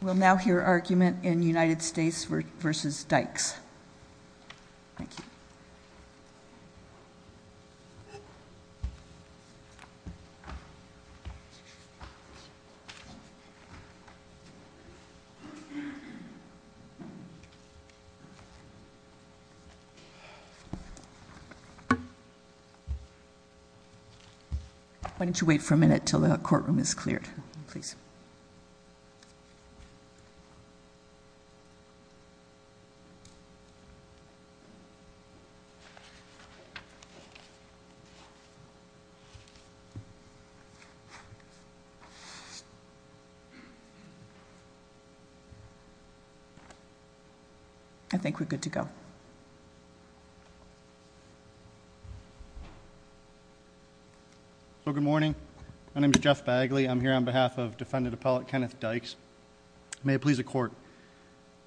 We'll now hear argument in United States v. Dykes. Why don't you wait for a minute until the courtroom is clear. Please. I think we're good to go. So good morning. My name is Jeff Bagley. I'm here on behalf of defendant appellate Kenneth Dykes. May it please the court.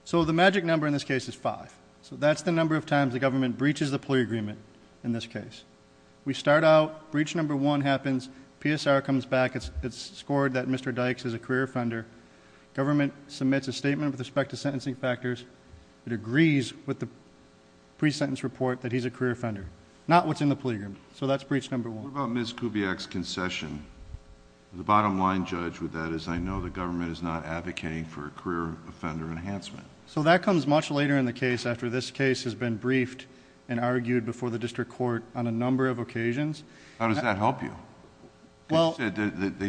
So the magic number in this case is five. So that's the number of times the government breaches the plea agreement in this case. We start out, breach number one happens, PSR comes back, it's scored that Mr. Dykes is a career offender. Government submits a statement with respect to sentencing factors. It agrees with the pre-sentence report that he's a career offender. Not what's in the plea agreement. So that's breach number one. What about Ms. Kubiak's concession? The bottom line, Judge, with that is I know the government is not advocating for a career offender enhancement. So that comes much later in the case after this case has been briefed and argued before the district court on a number of occasions. How does that help you? They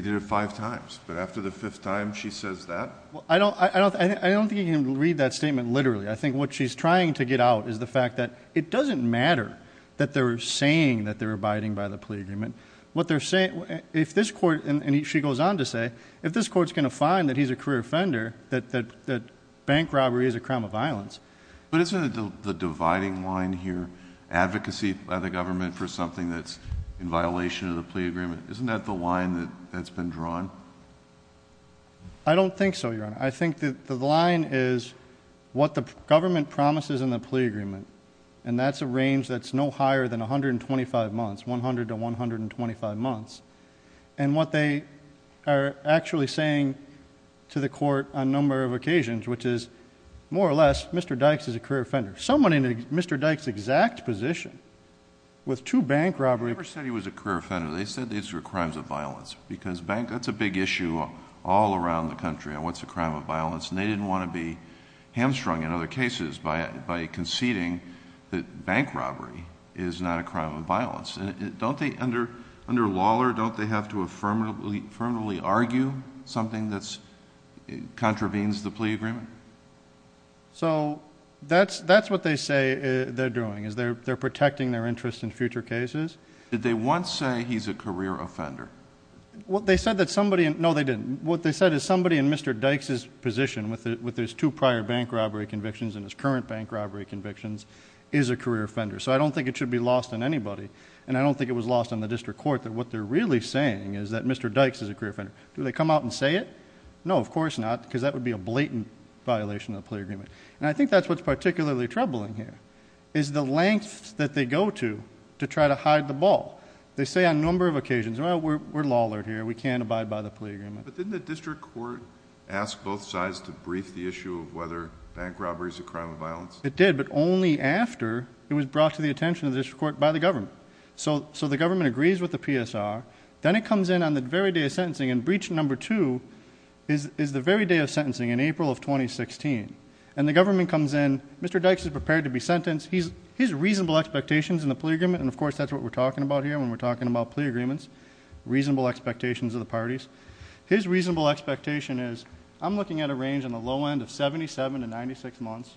did it five times. But after the fifth time, she says that? I don't think you can read that statement literally. I think what she's trying to get out is the fact that it doesn't matter that they're saying that they're abiding by the plea agreement. What they're saying, if this court, and she goes on to say, if this court's going to find that he's a career offender, that bank robbery is a crime of violence. But isn't the dividing line here advocacy by the government for something that's in violation of the plea agreement, isn't that the line that's been drawn? I don't think so, Your Honor. I think the line is what the government promises in the plea agreement, and that's a range that's no higher than 125 months, 100 to 125 months. And what they are actually saying to the court on a number of occasions, which is, more or less, Mr. Dykes is a career offender. Someone in Mr. Dykes' exact position with two bank robberies. They never said he was a career offender. They said these were crimes of violence, because bank, that's a big issue all around the country on what's a crime of violence, and they didn't want to be hamstrung in other cases by conceding that bank robbery is not a crime of violence. Don't they, under Lawler, don't they have to affirmatively argue something that contravenes the plea agreement? So that's what they say they're doing, is they're protecting their interest in future cases. Did they once say he's a career offender? Well, they said that somebody, no, they didn't. What they said is somebody in Mr. Dykes' position with his two prior bank robbery convictions and his current bank robbery convictions is a career offender. So I don't think it should be lost on anybody, and I don't think it was lost on the district court that what they're really saying is that Mr. Dykes is a career offender. Do they come out and say it? No, of course not, because that would be a blatant violation of the plea agreement. And I think that's what's particularly troubling here, is the lengths that they go to to try to hide the ball. They say on a number of occasions, well, we're Lawler here, we can't abide by the plea agreement. But didn't the district court ask both sides to brief the issue of whether bank robbery is a crime of violence? It did, but only after it was brought to the attention of the district court by the government. So the government agrees with the PSR. Then it comes in on the very day of sentencing, and breach number two is the very day of sentencing in April of 2016. And the government comes in, Mr. Dykes is prepared to be sentenced. His reasonable expectations in the plea agreement, and of course that's what we're talking about here when we're talking about plea agreements, reasonable expectations of the parties. His reasonable expectation is, I'm looking at a range on the low end of 77 to 96 months,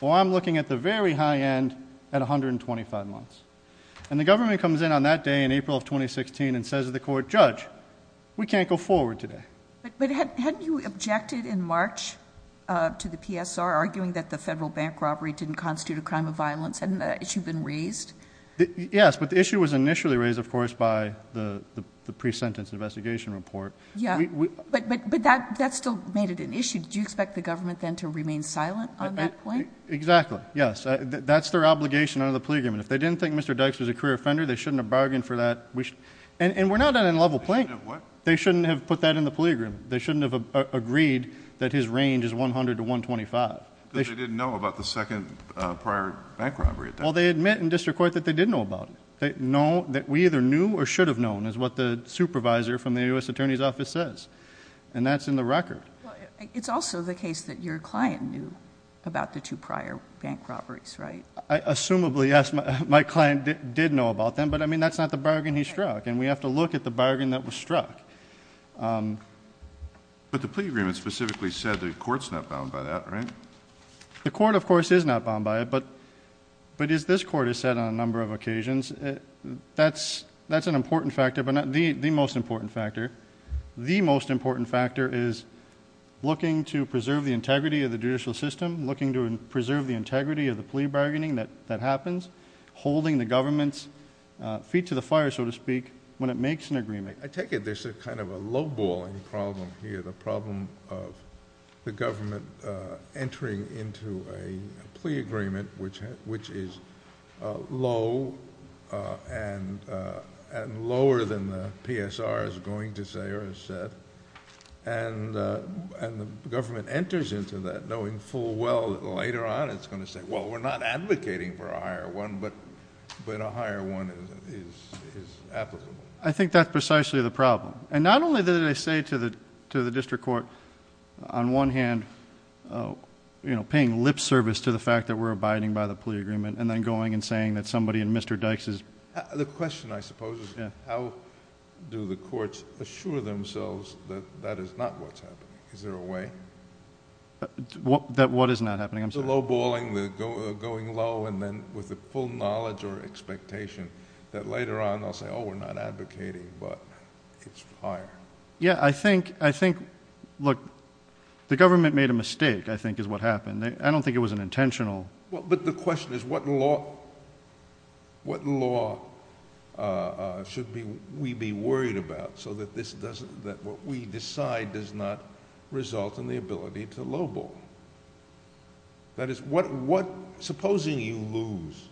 or I'm looking at the very high end at 125 months. And the government comes in on that day in April of 2016 and says to the court, judge, we can't go forward today. But hadn't you objected in March to the PSR, arguing that the federal bank robbery didn't constitute a crime of violence? Hadn't that issue been raised? Yes, but the issue was initially raised, of course, by the pre-sentence investigation report. Yeah, but that still made it an issue. Did you expect the government then to remain silent on that point? Exactly, yes. That's their obligation under the plea agreement. If they didn't think Mr. Dykes was a career offender, they shouldn't have bargained for that. And we're not at a level playing field. They shouldn't have put that in the plea agreement. They shouldn't have agreed that his range is 100 to 125. But they didn't know about the second prior bank robbery attack. Well, they admit in district court that they did know about it. They know that we either knew or should have known is what the supervisor from the U.S. Attorney's Office says, and that's in the record. It's also the case that your client knew about the two prior bank robberies, right? Assumably, yes, my client did know about them, but, I mean, that's not the bargain he struck, and we have to look at the bargain that was struck. But the plea agreement specifically said the court's not bound by that, right? The court, of course, is not bound by it, but as this court has said on a number of occasions, that's an important factor, but not the most important factor. The most important factor is looking to preserve the integrity of the judicial system, looking to preserve the integrity of the plea bargaining that happens, holding the government's feet to the fire, so to speak, when it makes an agreement. I take it there's a kind of a low-balling problem here, the problem of the government entering into a plea agreement which is low and lower than the PSR is going to say or has said, and the government enters into that knowing full well that later on it's going to say, well, we're not advocating for a higher one, but a higher one is applicable. I think that's precisely the problem, and not only did they say to the district court, on one hand, paying lip service to the fact that we're abiding by the plea agreement and then going and saying that somebody in Mr. Dykes'... The question, I suppose, is how do the courts assure themselves that that is not what's happening? Is there a way? That what is not happening? I'm sorry. Low-balling, going low, and then with the full knowledge or expectation that later on they'll say, oh, we're not advocating, but it's higher. Yeah, I think... look, the government made a mistake, I think, is what happened. I don't think it was an intentional... That is, supposing you lose,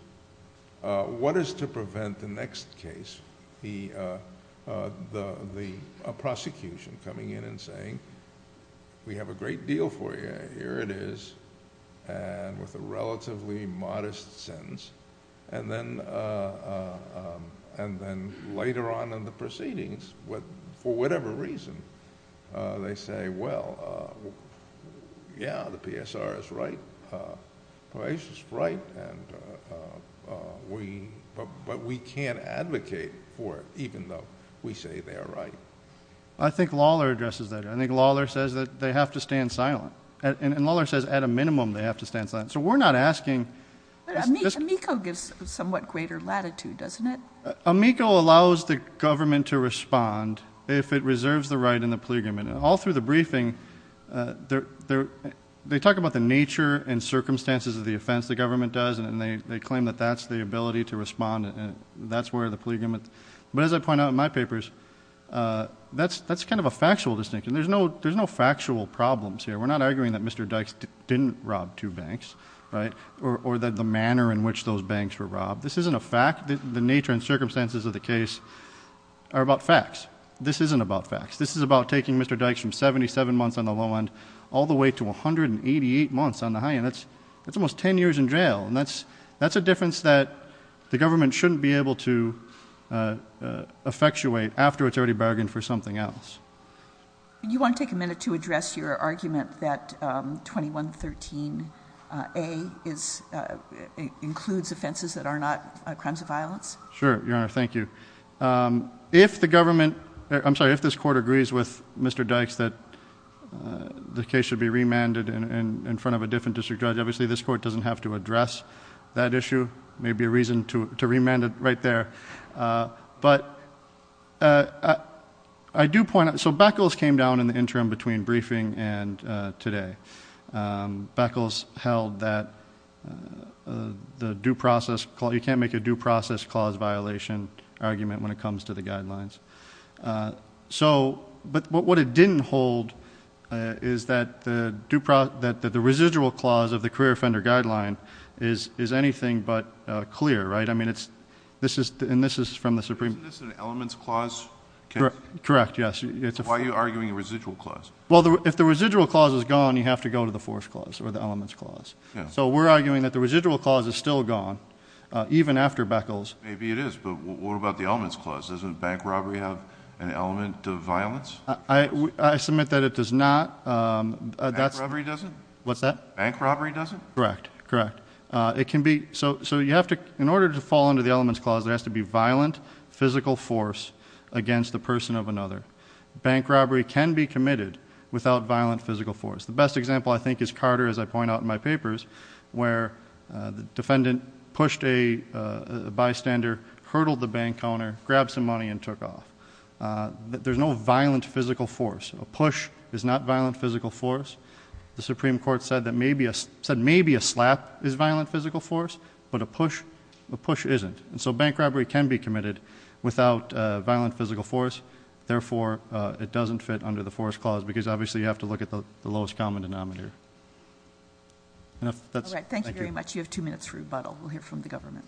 what is to prevent the next case, the prosecution coming in and saying, we have a great deal for you. Okay, here it is, and with a relatively modest sentence, and then later on in the proceedings, for whatever reason, they say, well, yeah, the PSR is right. Perhaps it's right, but we can't advocate for it, even though we say they're right. I think Lawler addresses that. I think Lawler says that they have to stand silent. And Lawler says, at a minimum, they have to stand silent. So, we're not asking... But Amico gives somewhat greater latitude, doesn't it? Amico allows the government to respond if it reserves the right in the plea agreement. All through the briefing, they talk about the nature and circumstances of the offense the government does, and they claim that that's the ability to respond, and that's where the plea agreement... But, as I point out in my papers, that's kind of a factual distinction. There's no factual problems here. We're not arguing that Mr. Dykes didn't rob two banks, right, or that the manner in which those banks were robbed. This isn't a fact. The nature and circumstances of the case are about facts. This isn't about facts. This is about taking Mr. Dykes from 77 months on the low end, all the way to 188 months on the high end. That's almost 10 years in jail, and that's a difference that the government shouldn't be able to effectuate after it's already bargained for something else. You want to take a minute to address your argument that 2113A includes offenses that are not crimes of violence? Sure, Your Honor. Thank you. If the government... I'm sorry, if this court agrees with Mr. Dykes that the case should be remanded in front of a different district judge, obviously this court doesn't have to address that issue. There may be a reason to remand it right there. But, I do point out... So, Beckles came down in the interim between briefing and today. Beckles held that the due process... you can't make a due process clause violation argument when it comes to the guidelines. So, but what it didn't hold is that the residual clause of the career offender guideline is anything but clear, right? I mean, it's... and this is from the Supreme... Isn't this an elements clause case? Correct, yes. Why are you arguing a residual clause? Well, if the residual clause is gone, you have to go to the force clause or the elements clause. So, we're arguing that the residual clause is still gone, even after Beckles. Maybe it is, but what about the elements clause? Doesn't bank robbery have an element of violence? I submit that it does not. Bank robbery doesn't? What's that? Bank robbery doesn't? Correct, correct. It can be... So, you have to... In order to fall under the elements clause, there has to be violent, physical force against the person of another. Bank robbery can be committed without violent, physical force. The best example, I think, is Carter, as I point out in my papers, where the defendant pushed a bystander, hurtled the bank counter, grabbed some money, and took off. There's no violent, physical force. A push is not violent, physical force. The Supreme Court said that maybe a slap is violent, physical force, but a push isn't. So, bank robbery can be committed without violent, physical force. Therefore, it doesn't fit under the force clause because, obviously, you have to look at the lowest common denominator. Thank you very much. You have two minutes for rebuttal. We'll hear from the government.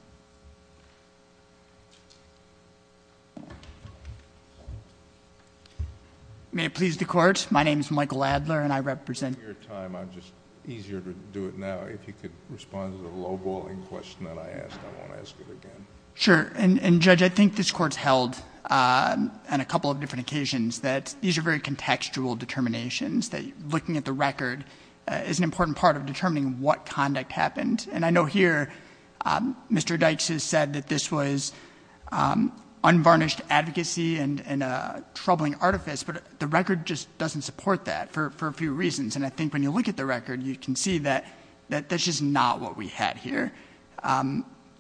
May it please the Court? I'm taking your time. I'm just... easier to do it now. If you could respond to the low-balling question that I asked, I won't ask it again. Sure. And, Judge, I think this Court's held on a couple of different occasions that these are very contextual determinations, that looking at the record is an important part of determining what conduct happened. And I know here, Mr. Dykes has said that this was unvarnished advocacy and a troubling artifice, but the record just doesn't support that for a few reasons. And I think when you look at the record, you can see that that's just not what we had here.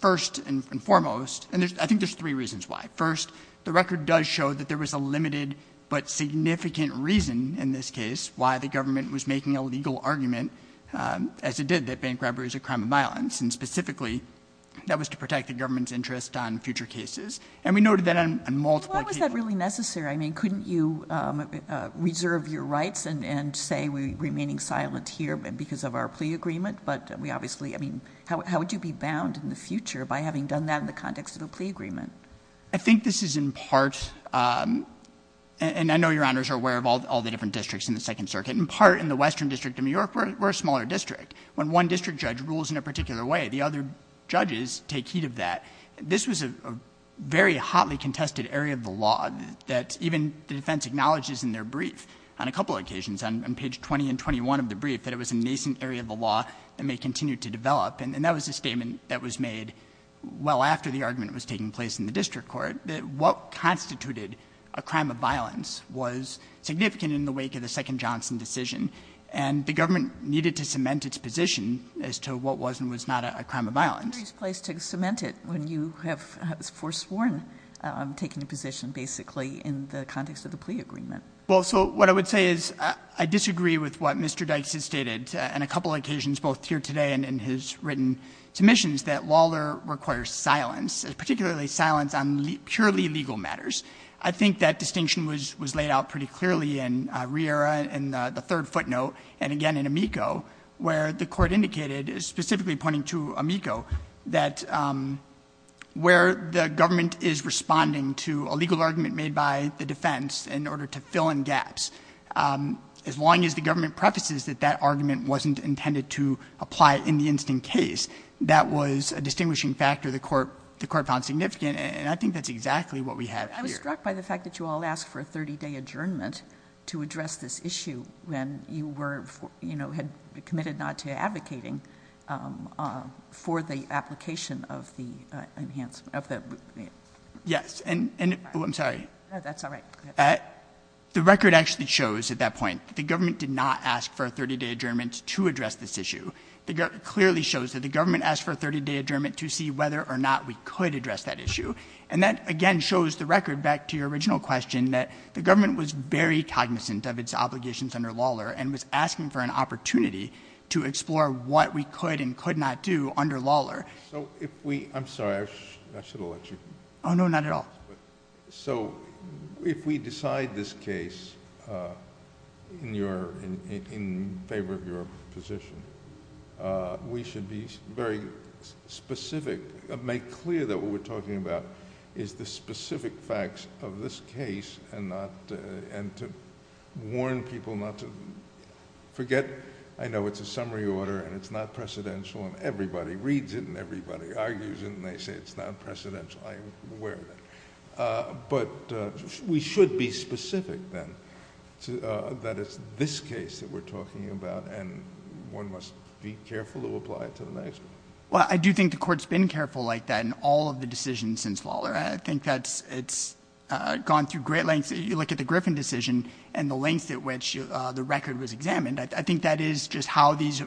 First and foremost, and I think there's three reasons why. First, the record does show that there was a limited but significant reason, in this case, why the government was making a legal argument, as it did, that bank robbery was a crime of violence. And specifically, that was to protect the government's interest on future cases. And we noted that on multiple occasions. Why was that really necessary? I mean, couldn't you reserve your rights and say we're remaining silent here because of our plea agreement? But we obviously... I mean, how would you be bound in the future by having done that in the context of a plea agreement? I think this is in part, and I know Your Honors are aware of all the different districts in the Second Circuit. In part, in the Western District of New York, we're a smaller district. When one district judge rules in a particular way, the other judges take heed of that. This was a very hotly contested area of the law that even the defense acknowledges in their brief on a couple of occasions, on page 20 and 21 of the brief, that it was a nascent area of the law that may continue to develop. And that was a statement that was made well after the argument was taking place in the district court, that what constituted a crime of violence was significant in the wake of the second Johnson decision. And the government needed to cement its position as to what was and was not a crime of violence. It's a very nice place to cement it when you have forsworn taking a position, basically, in the context of the plea agreement. Well, so what I would say is I disagree with what Mr. Dykes has stated on a couple of occasions, both here today and in his written submissions, that Lawler requires silence, particularly silence on purely legal matters. I think that distinction was laid out pretty clearly in Riera and the third footnote, and again in Amico, where the court indicated, specifically pointing to Amico, that where the government is responding to a legal argument made by the defense in order to fill in gaps, as long as the government prefaces that that argument wasn't intended to apply in the instant case, that was a distinguishing factor the court found significant, and I think that's exactly what we have here. I was struck by the fact that you all asked for a 30-day adjournment to address this issue when you were, you know, had committed not to advocating for the application of the enhancement. Yes, and I'm sorry. That's all right. The record actually shows at that point that the government did not ask for a 30-day adjournment to address this issue. It clearly shows that the government asked for a 30-day adjournment to see whether or not we could address that issue, and that, again, shows the record back to your original question that the government was very cognizant of its obligations under Lawler and was asking for an opportunity to explore what we could and could not do under Lawler. So if we—I'm sorry. I should have let you. Oh, no, not at all. So if we decide this case in favor of your position, we should be very specific, make clear that what we're talking about is the specific facts of this case and to warn people not to forget. I know it's a summary order, and it's not precedential, and everybody reads it, and everybody argues it, and they say it's not precedential. I'm aware of that. But we should be specific, then, that it's this case that we're talking about, and one must be careful to apply it to the next one. Well, I do think the Court's been careful like that in all of the decisions since Lawler. I think that it's gone through great lengths. You look at the Griffin decision and the length at which the record was examined. I think that is just how these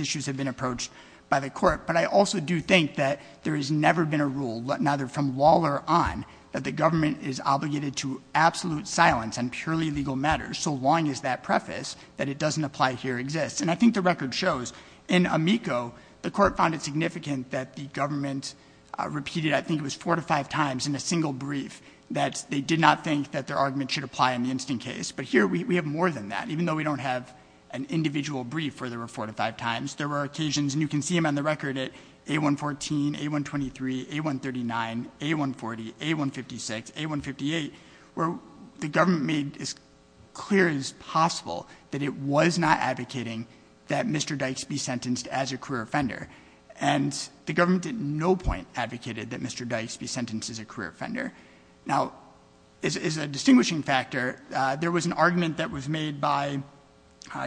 issues have been approached by the Court. But I also do think that there has never been a rule, neither from Lawler on, that the government is obligated to absolute silence on purely legal matters so long as that preface, that it doesn't apply here, exists. And I think the record shows, in Amico, the Court found it significant that the government repeated, I think it was four to five times in a single brief, that they did not think that their argument should apply in the instant case. But here we have more than that. Even though we don't have an individual brief where there were four to five times, there were occasions, and you can see them on the record at A114, A123, A139, A140, A156, A158, where the government made as clear as possible that it was not advocating that Mr. Dykes be sentenced as a career offender. And the government at no point advocated that Mr. Dykes be sentenced as a career offender. Now, as a distinguishing factor, there was an argument that was made by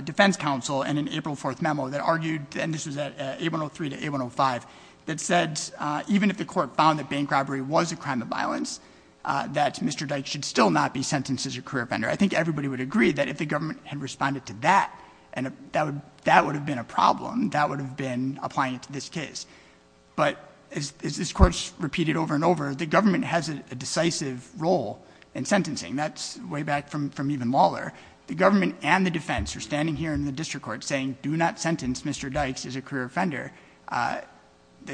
defense counsel in an April 4th memo that argued, and this was at A103 to A105, that said even if the court found that bank robbery was a crime of violence, that Mr. Dykes should still not be sentenced as a career offender. I think everybody would agree that if the government had responded to that, that would have been a problem. That would have been applying it to this case. But as this Court's repeated over and over, the government has a decisive role in sentencing. That's way back from even Lawler. The government and the defense are standing here in the district court saying, do not sentence Mr. Dykes as a career offender. The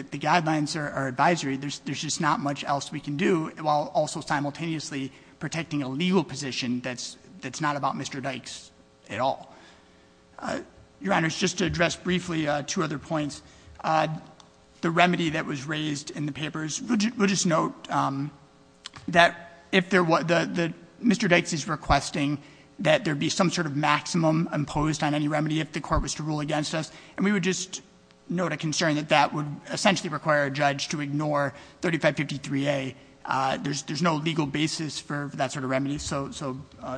guidelines are advisory. There's just not much else we can do while also simultaneously protecting a legal position that's not about Mr. Dykes at all. Your Honor, just to address briefly two other points, the remedy that was raised in the papers, we'll just note that Mr. Dykes is requesting that there be some sort of maximum imposed on any remedy if the court was to rule against us. And we would just note a concern that that would essentially require a judge to ignore 3553A. There's no legal basis for that sort of remedy. So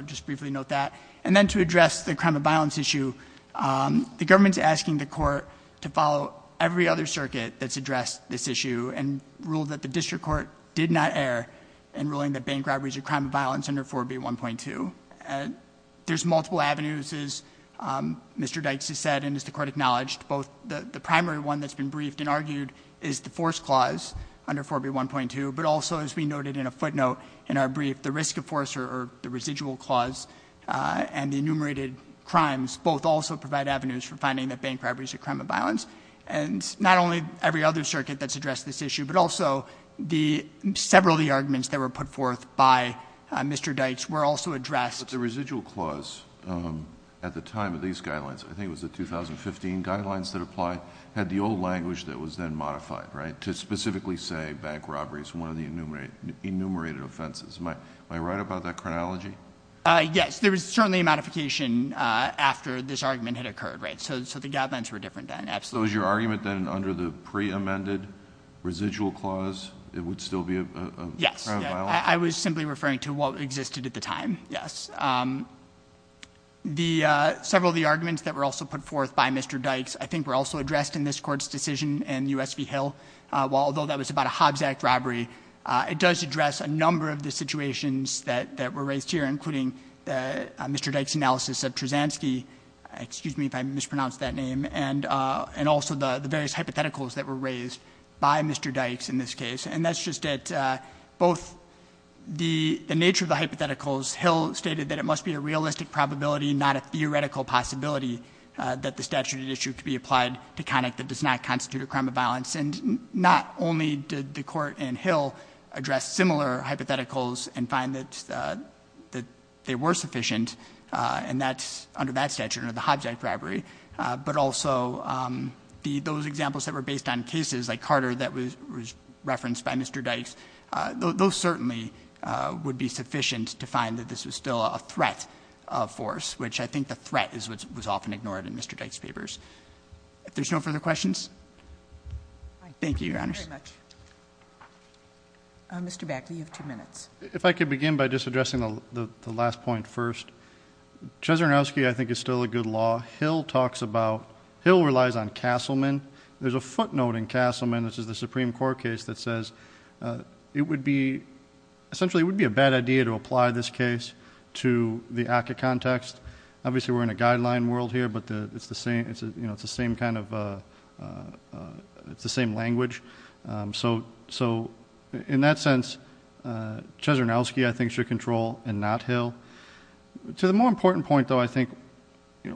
just briefly note that. And then to address the crime of violence issue, the government's asking the court to follow every other circuit that's addressed this issue and rule that the district court did not err in ruling that bank robberies are crime of violence under 4B1.2. There's multiple avenues, as Mr. Dykes has said and as the court acknowledged, both the primary one that's been briefed and argued is the force clause under 4B1.2, but also as we noted in a footnote in our brief, the risk of force or the residual clause and the enumerated crimes both also provide avenues for finding that bank robberies are crime of violence. And not only every other circuit that's addressed this issue, but also the several of the arguments that were put forth by Mr. Dykes were also addressed. But the residual clause at the time of these guidelines, I think it was the 2015 guidelines that applied, had the old language that was then modified, right, to specifically say bank robberies were one of the enumerated offenses. Am I right about that chronology? Yes. There was certainly a modification after this argument had occurred, right? So the guidelines were different then. Absolutely. So was your argument then under the pre-amended residual clause, it would still be a crime of violence? Yes. I was simply referring to what existed at the time. Yes. Several of the arguments that were also put forth by Mr. Dykes I think were also addressed in this Court's decision in U.S. v. Hill. Although that was about a Hobbs Act robbery, it does address a number of the situations that were raised here, including Mr. Dykes' analysis of Trzanski excuse me if I mispronounced that name, and also the various hypotheticals that were raised by Mr. Dykes in this case. And that's just that both the nature of the hypotheticals, Hill stated that it must be a realistic probability, not a theoretical possibility, that the statute at issue could be applied to conduct that does not constitute a crime of violence. And not only did the Court in Hill address similar hypotheticals and find that they were sufficient, and that's under that statute under the Hobbs Act robbery, but also those examples that were based on cases like Carter that was referenced by Mr. Dykes, those certainly would be sufficient to find that this was still a threat of force, which I think the threat was often ignored in Mr. Dykes' papers. If there's no further questions? Thank you, Your Honors. Thank you very much. Mr. Bagley, you have two minutes. If I could begin by just addressing the last point first. Trzanski, I think, is still a good law. Hill talks about, Hill relies on Castleman. There's a footnote in Castleman, which is the Supreme Court case, that says it would be, essentially it would be a bad idea to apply this case to the ACCA context. Obviously we're in a guideline world here, but it's the same kind of, it's the same language. So in that sense, Trzanski, I think, should control and not Hill. To the more important point, though, I think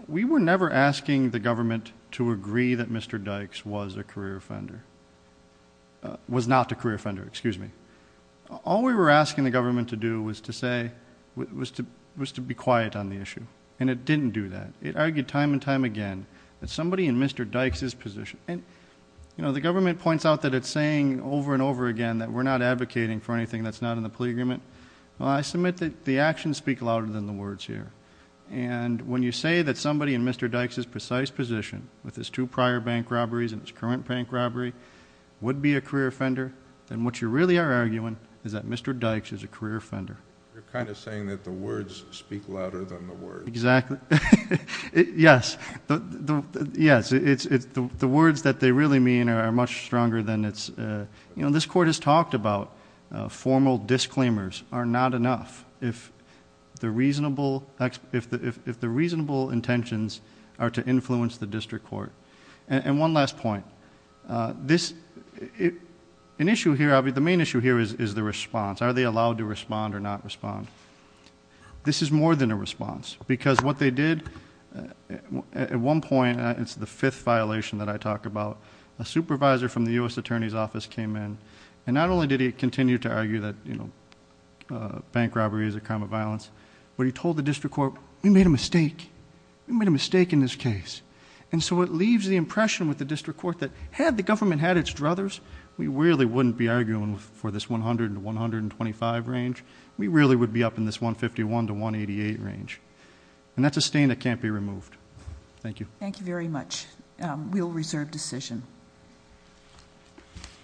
we were never asking the government to agree that Mr. Dykes was a career offender, was not a career offender, excuse me. All we were asking the government to do was to say, was to be quiet on the issue, and it didn't do that. It argued time and time again that somebody in Mr. Dykes' position, and the government points out that it's saying over and over again that we're not advocating for anything that's not in the plea agreement. Well, I submit that the actions speak louder than the words here. And when you say that somebody in Mr. Dykes' precise position, with his two prior bank robberies and his current bank robbery, would be a career offender, then what you really are arguing is that Mr. Dykes is a career offender. You're kind of saying that the words speak louder than the words. Exactly. Yes. The words that they really mean are much stronger than it's... You know, this court has talked about formal disclaimers are not enough if the reasonable intentions are to influence the district court. And one last point. An issue here, the main issue here is the response. Are they allowed to respond or not respond? This is more than a response. Because what they did, at one point, it's the fifth violation that I talk about, a supervisor from the U.S. Attorney's Office came in, and not only did he continue to argue that, you know, bank robbery is a crime of violence, but he told the district court, we made a mistake. We made a mistake in this case. And so it leaves the impression with the district court that had the government had its druthers, we really wouldn't be arguing for this 100 to 125 range. We really would be up in this 151 to 188 range. And that's a stain that can't be removed. Thank you. Thank you very much. We'll reserve decision.